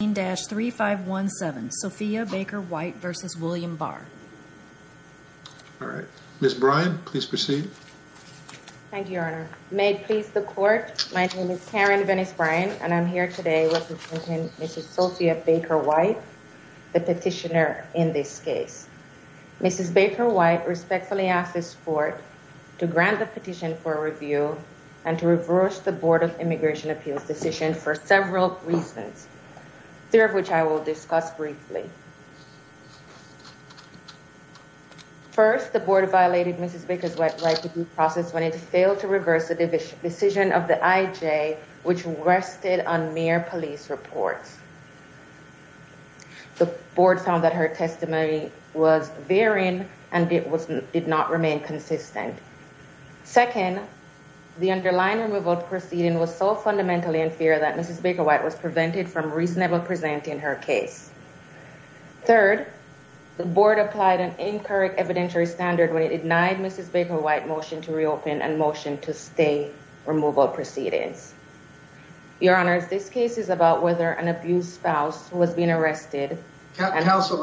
Ms. Brian, please proceed. Thank you, Your Honor. May it please the Court, my name is Karen Venice-Brian, and I'm here today representing Mrs. Sophia Baker White, the petitioner in this case. Mrs. Baker White respectfully asked this Court to grant the petition for review and to reverse the Board of Immigration Appeals decision for several reasons, three of which I will discuss briefly. First, the Board violated Mrs. Baker's right to due process when it failed to reverse the decision of the IJ, which rested on mere police reports. The Board found that her testimony was varying and did not remain consistent. Second, the underlying removal proceeding was so fundamentally in fear that Mrs. Baker White was prevented from reasonably presenting her case. Third, the Board applied an incorrect evidentiary standard when it denied Mrs. Baker White motion to reopen and motion to stay removal proceedings. Your Honor, this case is about whether an abused spouse was being arrested. Counsel,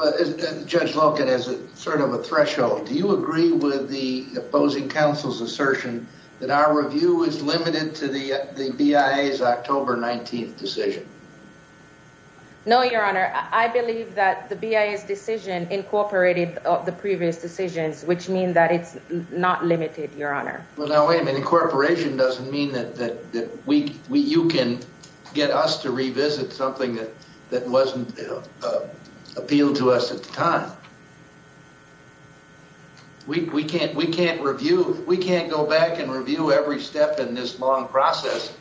Judge Loken, as sort of a threshold, do you agree with the opposing counsel's assertion that our review is limited to the BIA's October 19th decision? No, Your Honor. I believe that the BIA's decision incorporated the previous decisions, which means that it's not limited, Your Honor. Well, now, wait a minute. Incorporation doesn't mean that you can get us to revisit something that wasn't appealed to us at the time. We can't go back and review every step in this long process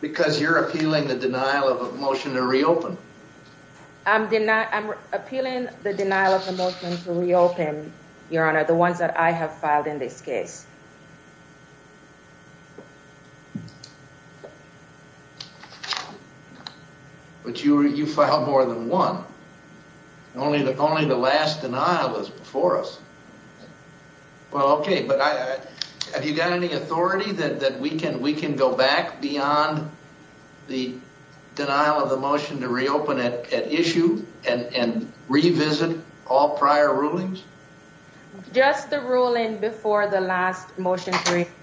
because you're appealing the denial of a motion to reopen. I'm appealing the denial of a motion to reopen, Your Honor, the ones that I have filed in this case. But you filed more than one. Only the last denial is before us. Well, OK, but have you got any authority that we can go back beyond the denial of the motion to reopen at issue and revisit all prior rulings? Just the ruling before the last motion,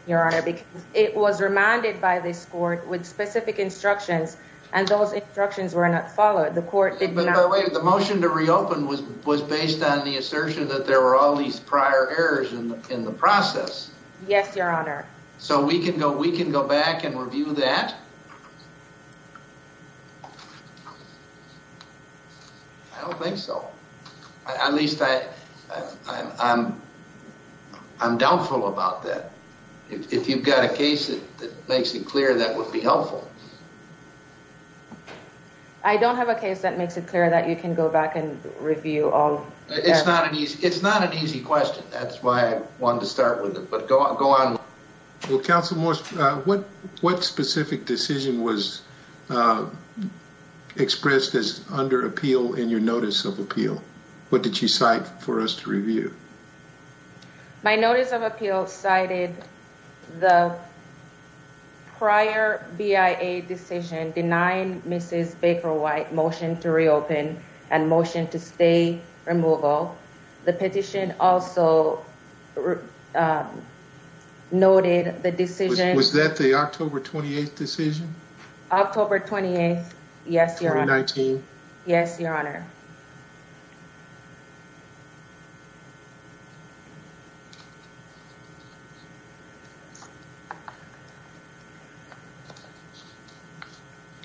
Your Honor, because it was remanded by this court with specific instructions and those instructions were not followed. The motion to reopen was based on the assertion that there were all these prior errors in the process. Yes, Your Honor. So we can go back and review that? I don't think so. At least I'm doubtful about that. If you've got a case that makes it clear, that would be helpful. I don't have a case that makes it clear that you can go back and review all. It's not an easy question. That's why I wanted to start with it. But go on. Well, counsel, what specific decision was expressed as under appeal in your notice of appeal? What did you cite for us to review? My notice of appeal cited the prior BIA decision denying Mrs. Baker White motion to reopen and motion to stay removal. The petition also noted the decision. Was that the October 28th decision? October 28th. Yes, Your Honor. 2019? Yes, Your Honor.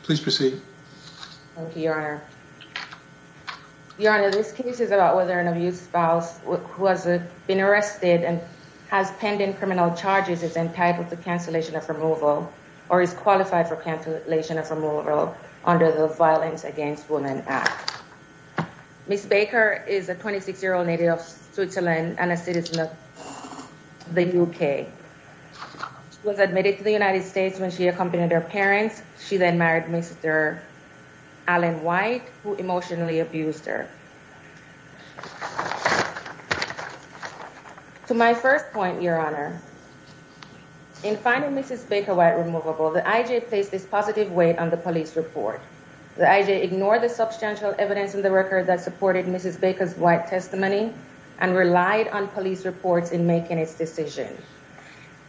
Please proceed. Thank you, Your Honor. Your Honor, this case is about whether an abused spouse who has been arrested and has pending criminal charges is entitled to cancellation of removal or is qualified for cancellation of removal under the Violence Against Women Act. Ms. Baker is a 26-year-old native of Switzerland and a citizen of the UK. She was admitted to the United States when she accompanied her parents. She then married Mr. Alan White, who emotionally abused her. To my first point, Your Honor, in finding Mrs. Baker White removable, the IJ placed this positive weight on the police report. The IJ ignored the substantial evidence in the record that supported Mrs. Baker's White testimony and relied on police reports in making its decision.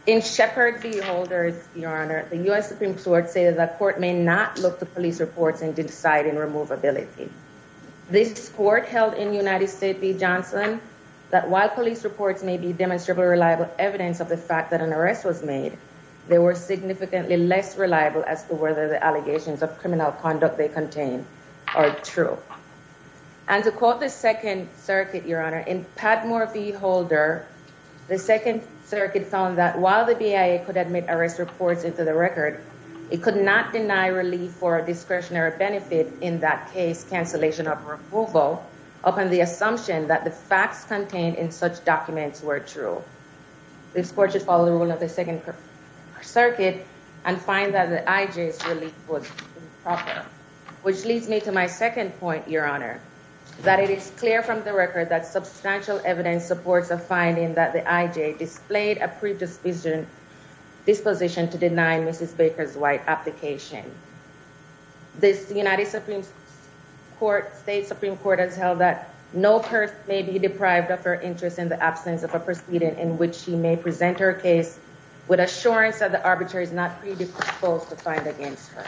In Shepard v. Holders, Your Honor, the U.S. Supreme Court stated that court may not look to police reports in deciding removability. This court held in United States v. Johnson that while police reports may be demonstrably reliable evidence of the fact that an arrest was made, they were significantly less reliable as to whether the allegations of criminal conduct they contain are true. And to quote the Second Circuit, Your Honor, in Padmore v. Holder, the Second Circuit found that while the BIA could admit arrest reports into the record, it could not deny relief for discretionary benefit in that case cancellation of removal upon the assumption that the facts contained in such documents were true. This court should follow the rule of the Second Circuit and find that the IJ's relief was improper. Which leads me to my second point, Your Honor, that it is clear from the record that substantial evidence supports a finding that the IJ displayed a predisposition to deny Mrs. Baker's White application. This United States Supreme Court has held that no person may be deprived of her interest in the absence of a proceeding in which she may present her case with assurance that the arbitrator is not predisposed to find against her.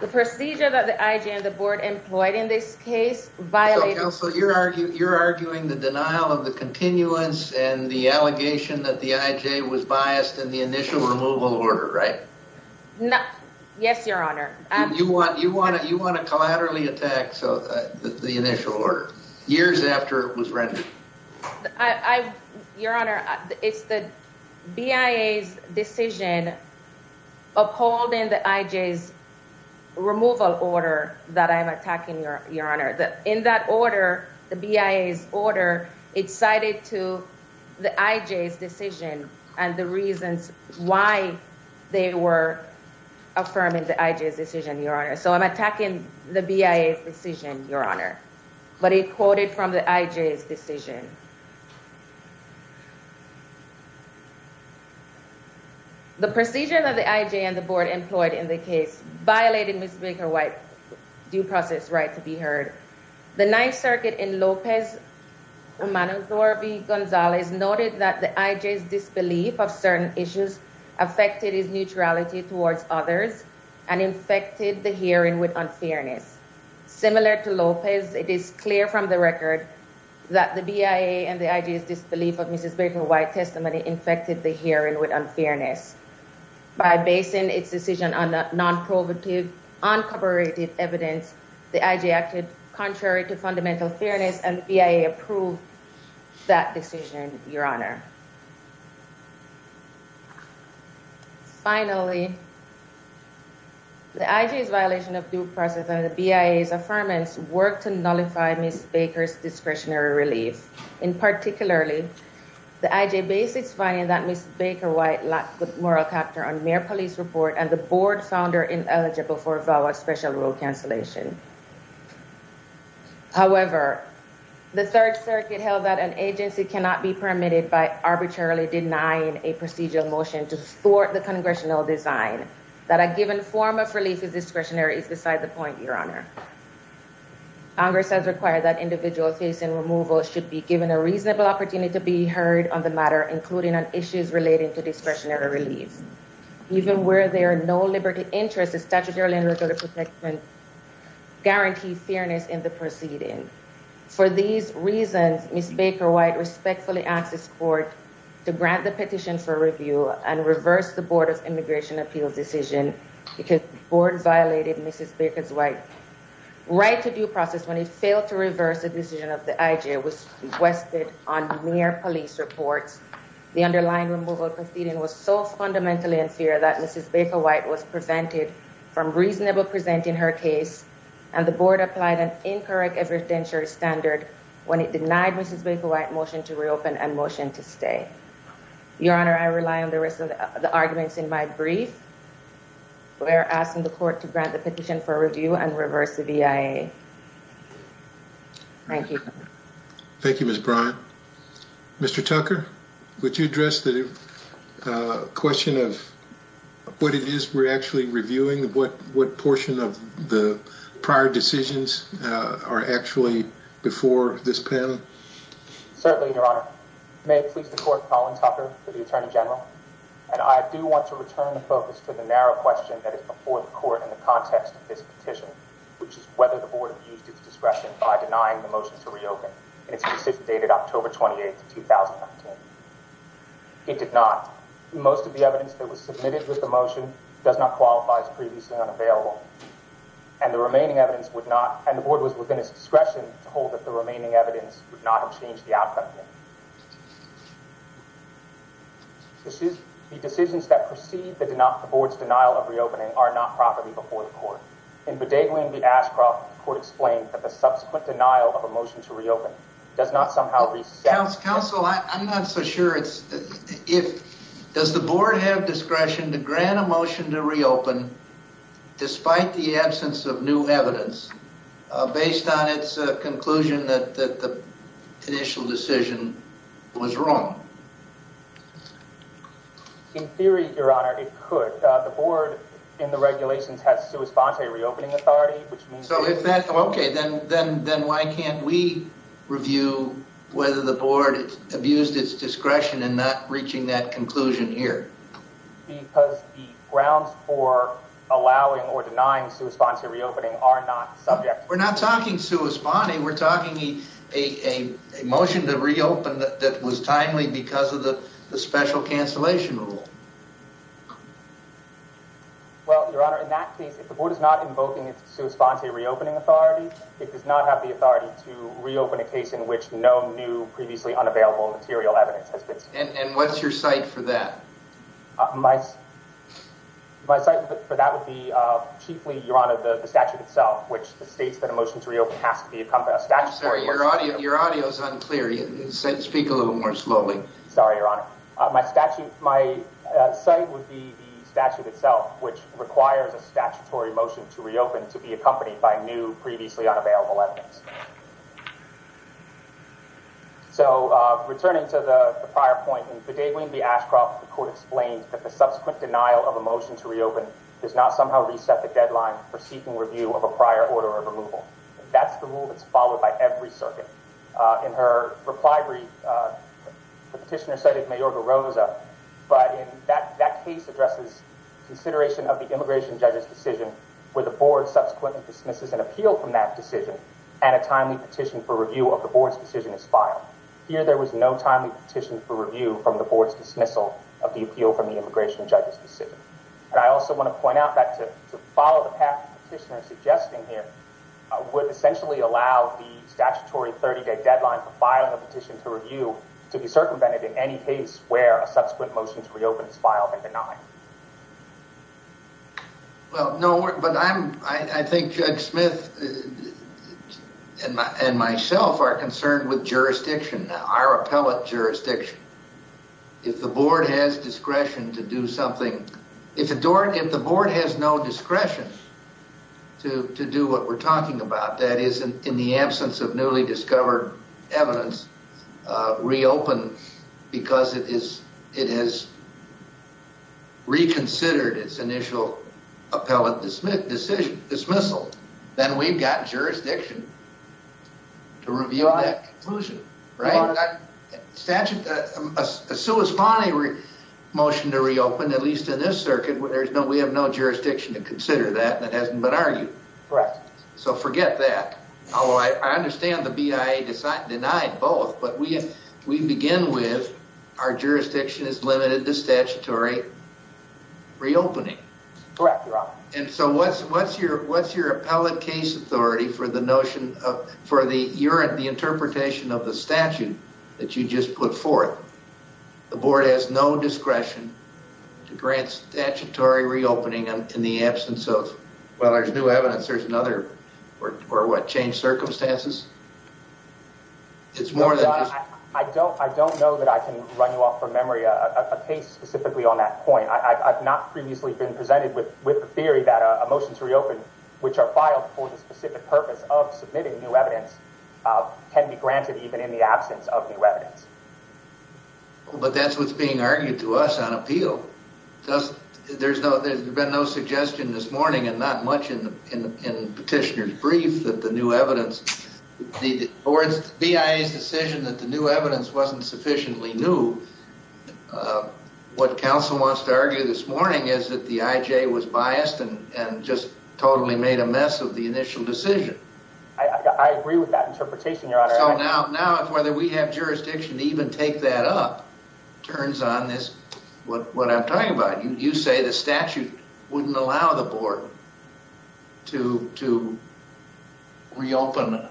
The procedure that the IJ and the board employed in this case violated... Counsel, you're arguing the denial of the continuance and the allegation that the IJ was biased in the initial removal order, right? Yes, Your Honor. You want to collaterally attack the initial order years after it was rendered? Your Honor, it's the BIA's decision upholding the IJ's removal order that I'm attacking, Your Honor. In that order, the BIA's order, it's cited to the IJ's decision and the reasons why they were affirming the IJ's decision, Your Honor. So, I'm attacking the BIA's decision, Your Honor, but it quoted from the IJ's decision. The procedure that the IJ and the board employed in the case violated Mrs. Baker White's due process right to be heard. The Ninth Circuit in Lopez-Gonzalez noted that the IJ's disbelief of certain issues affected its neutrality towards others and infected the hearing with unfairness. Similar to Lopez, it is clear from the record that the BIA and the IJ's disbelief of Mrs. Baker White's testimony infected the hearing with unfairness. By basing its decision on non-provocative, uncooperative evidence, the IJ acted contrary to fundamental fairness and the BIA approved that decision, Your Honor. Finally, the IJ's violation of due process and the BIA's affirmance worked to nullify Mrs. Baker's discretionary relief. In particularly, the IJ based its finding that Mrs. Baker White lacked the moral character on mere police report and the board found her ineligible for a vow of special rule cancellation. However, the Third Circuit held that an agency cannot be permitted by arbitrarily denying a procedural motion to thwart the congressional design. That a given form of relief is discretionary is beside the point, Your Honor. Congress has required that individuals facing removal should be given a reasonable opportunity to be heard on the matter, including on issues relating to discretionary relief. Even where there are no liberty interests, a statutory and regulatory protection guarantee fairness in the proceeding. For these reasons, Mrs. Baker White respectfully asked this court to grant the petition for review and reverse the Board of Immigration Appeals decision because the board violated Mrs. Baker's right to due process when it failed to reverse the decision of the IJ. It was requested on mere police reports. The underlying removal proceeding was so fundamentally in fear that Mrs. Baker White was prevented from reasonable presenting her case and the board applied an incorrect evidentiary standard when it denied Mrs. Baker White motion to reopen and motion to stay. Your Honor, I rely on the rest of the arguments in my brief. We are asking the court to grant the petition for review and reverse the BIA. Thank you. Thank you, Ms. Bryant. Mr. Tucker, would you address the question of what it is we're actually reviewing? What portion of the prior decisions are actually before this panel? Certainly, Your Honor. May it please the court, Colin Tucker for the Attorney General. I do want to return the focus to the narrow question that is before the court in the context of this petition, which is whether the board used its discretion by denying the motion to reopen. It's dated October 28th, 2015. It did not. Most of the evidence that was submitted with the motion does not qualify as previously unavailable. And the remaining evidence would not. And the board was within its discretion to hold that the remaining evidence would not have changed the outcome. The decisions that precede the board's denial of reopening are not properly before the court. In Bodeglin v. Ashcroft, the court explained that the subsequent denial of a motion to reopen does not somehow reset the- Counsel, I'm not so sure. Does the board have discretion to grant a motion to reopen, despite the absence of new evidence, based on its conclusion that the initial decision, was wrong? In theory, Your Honor, it could. The board, in the regulations, has sua sponte reopening authority, which means- So if that- Okay, then why can't we review whether the board abused its discretion in not reaching that conclusion here? Because the grounds for allowing or denying sua sponte reopening are not subject- We're not talking sua sponte. We're talking a motion to reopen that was timely because of the special cancellation rule. Well, Your Honor, in that case, if the board is not invoking its sua sponte reopening authority, it does not have the authority to reopen a case in which no new previously unavailable material evidence has been- And what's your cite for that? My cite for that would be, chiefly, Your Honor, the statute itself, which states that a motion to reopen has to be accompanied- I'm sorry, your audio is unclear. Speak a little more slowly. Sorry, Your Honor. My cite would be the statute itself, which requires a statutory motion to reopen to be accompanied by new previously unavailable evidence. So, returning to the prior point, in Bidewin v. Ashcroft, the court explained that the subsequent denial of a motion to reopen does not somehow reset the deadline for seeking review of a prior order of removal. That's the rule that's followed by every circuit. In her reply brief, the petitioner cited Mayor Garoza, but that case addresses consideration of the immigration judge's decision where the board subsequently dismisses an appeal from that decision and a timely petition for review of the board's decision is filed. Here, there was no timely petition for review from the board's dismissal of the appeal from the immigration judge's decision. And I also want to point out that to follow the path the petitioner is suggesting here would essentially allow the statutory 30-day deadline for filing a petition to review to be circumvented in any case where a subsequent motion to reopen is filed and denied. Well, no, but I think Judge Smith and myself are concerned with jurisdiction, our appellate jurisdiction. If the board has discretion to do something, if the board has no discretion to do what we're talking about, that is, in the absence of newly discovered evidence, reopen because it has reconsidered its initial appellate dismissal, then we've got jurisdiction to review that conclusion, right? A sui spani motion to reopen, at least in this circuit, we have no jurisdiction to consider that, and it hasn't been argued. Correct. So forget that. Although I understand the BIA denied both, but we begin with our jurisdiction is limited to statutory reopening. Correct, Your Honor. And so what's your appellate case authority for the notion of, for the interpretation of the statute that you just put forth? The board has no discretion to grant statutory reopening in the absence of? Well, there's new evidence, there's another, or what, changed circumstances? It's more than just- I don't know that I can run you off from memory a case specifically on that point. I've not previously been presented with the theory that a motion to reopen, which are filed for the specific purpose of submitting new evidence, can be granted even in the absence of new evidence. There's been no suggestion this morning and not much in petitioner's brief that the new evidence, or it's BIA's decision that the new evidence wasn't sufficiently new. What counsel wants to argue this morning is that the IJ was biased and just totally made a mess of the initial decision. I agree with that interpretation, Your Honor. So now whether we have jurisdiction to even take that up turns on this, what I'm talking about. You say the statute wouldn't allow the board to reopen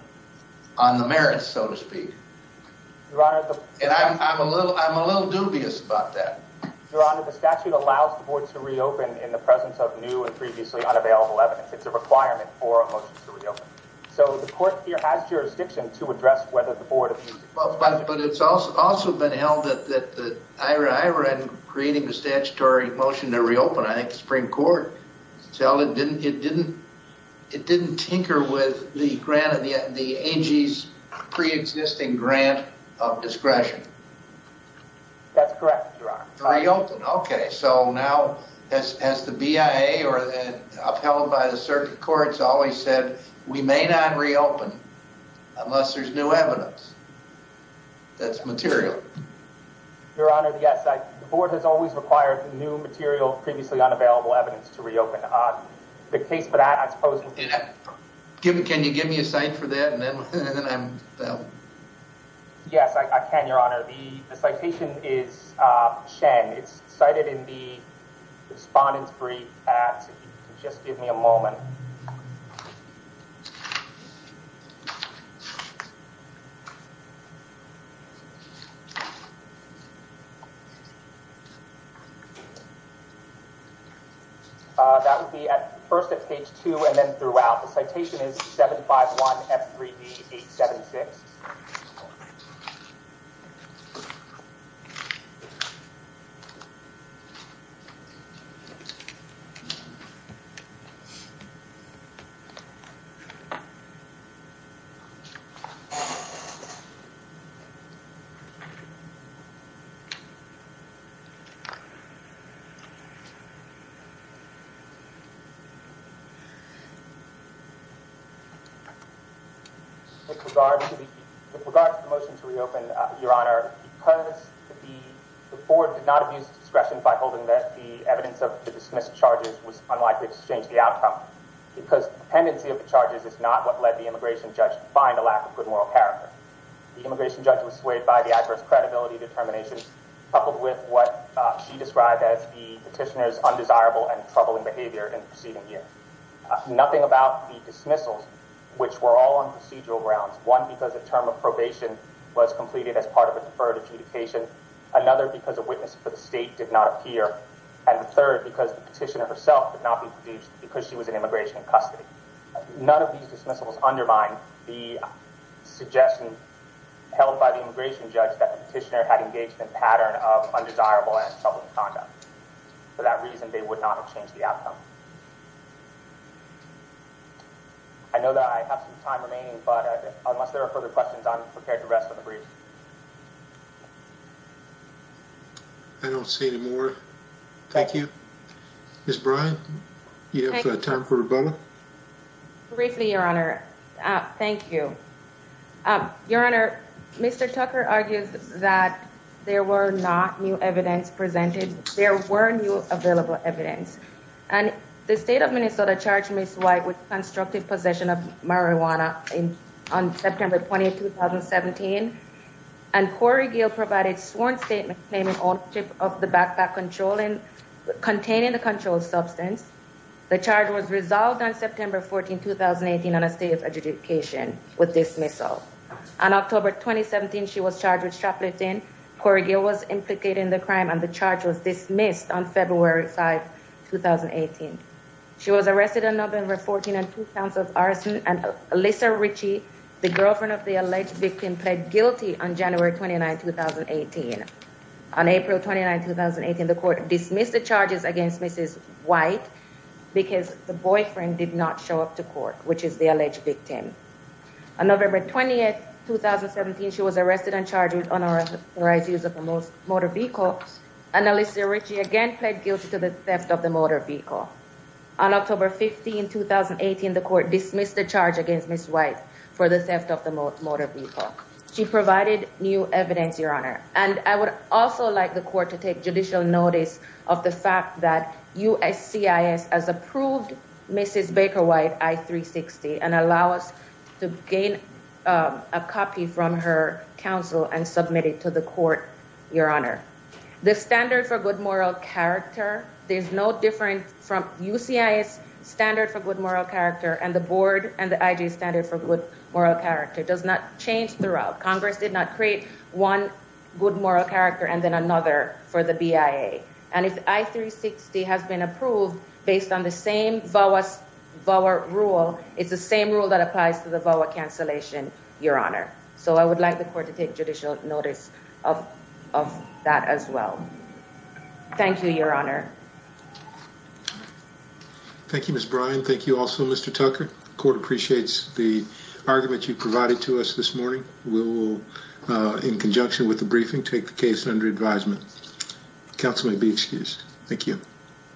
on the merits, so to speak. Your Honor, the- And I'm a little dubious about that. Your Honor, the statute allows the board to reopen in the presence of new and previously unavailable evidence. It's a requirement for a motion to reopen. So the court here has jurisdiction to address whether the board- But it's also been held that Irene creating the statutory motion to reopen, I think the Supreme Court, it didn't tinker with the grant of the AG's preexisting grant of discretion. That's correct, Your Honor. To reopen, okay. So now has the BIA or upheld by the circuit courts always said, we may not reopen unless there's new evidence that's material? Your Honor, yes. The board has always required new material, previously unavailable evidence to reopen. The case for that, I suppose- Can you give me a cite for that and then I'm- Yes, I can, Your Honor. The citation is Shen. It's cited in the respondent's brief at- That would be at first at page 2 and then throughout. The citation is 751 F3D 876. With regard to the motion to reopen, Your Honor, because the board did not abuse discretion by holding that the evidence of the dismissed charges was unlikely to change the outcome because dependency of the charges is not what led the immigration judge to find a lack of good moral character. The immigration judge was swayed by the adverse credibility determination coupled with what she described as the petitioner's undesirable and troubling behavior in the preceding year. Nothing about the dismissals, which were all on procedural grounds, one because a term of probation was completed as part of a deferred adjudication, another because a witness for the state did not appear, and the third because the petitioner herself could not be produced because she was in immigration custody. None of these dismissals undermined the suggestion held by the immigration judge that the petitioner had engaged in a pattern of undesirable and troubling conduct. For that reason, they would not have changed the outcome. I know that I have some time remaining, but unless there are further questions, I'm prepared to rest on the brief. I don't see any more. Thank you. Ms. Bryant, do you have time for rebuttal? Briefly, Your Honor. Thank you. Your Honor, Mr. Tucker argues that there were not new evidence presented. There were new available evidence, and the state of Minnesota charged Ms. White with constructive possession of marijuana on September 20, 2017, and Corey Gill provided sworn statement claiming ownership of the backpack containing the controlled substance. The charge was resolved on September 14, 2018, on a state of adjudication with dismissal. On October 2017, she was charged with shoplifting. Corey Gill was implicated in the crime, and the charge was dismissed on February 5, 2018. She was arrested on November 14 and two counts of arson, and Alyssa Ritchie, the girlfriend of the alleged victim, pled guilty on January 29, 2018. On April 29, 2018, the court dismissed the charges against Mrs. White because the boyfriend did not show up to court, which is the alleged victim. On November 20, 2017, she was arrested and charged with unauthorized use of a motor vehicle, and Alyssa Ritchie again pled guilty to the theft of the motor vehicle. On October 15, 2018, the court dismissed the charge against Ms. White for the theft of the motor vehicle. She provided new evidence, Your Honor, and I would also like the court to take judicial notice of the fact that USCIS has approved Mrs. Baker White I-360 and allow us to gain a copy from her counsel and submit it to the court, Your Honor. The standard for good moral character, there's no difference from USCIS standard for good moral character and the board and the IG standard for good moral character does not change throughout. Congress did not create one good moral character and then another for the BIA. And if I-360 has been approved based on the same VAWA rule, it's the same rule that applies to the VAWA cancellation, Your Honor. So I would like the court to take judicial notice of that as well. Thank you, Your Honor. Thank you, Ms. Bryan. Thank you also, Mr. Tucker. The court appreciates the argument you provided to us this morning. We will, in conjunction with the briefing, take the case under advisement. Counsel may be excused. Thank you.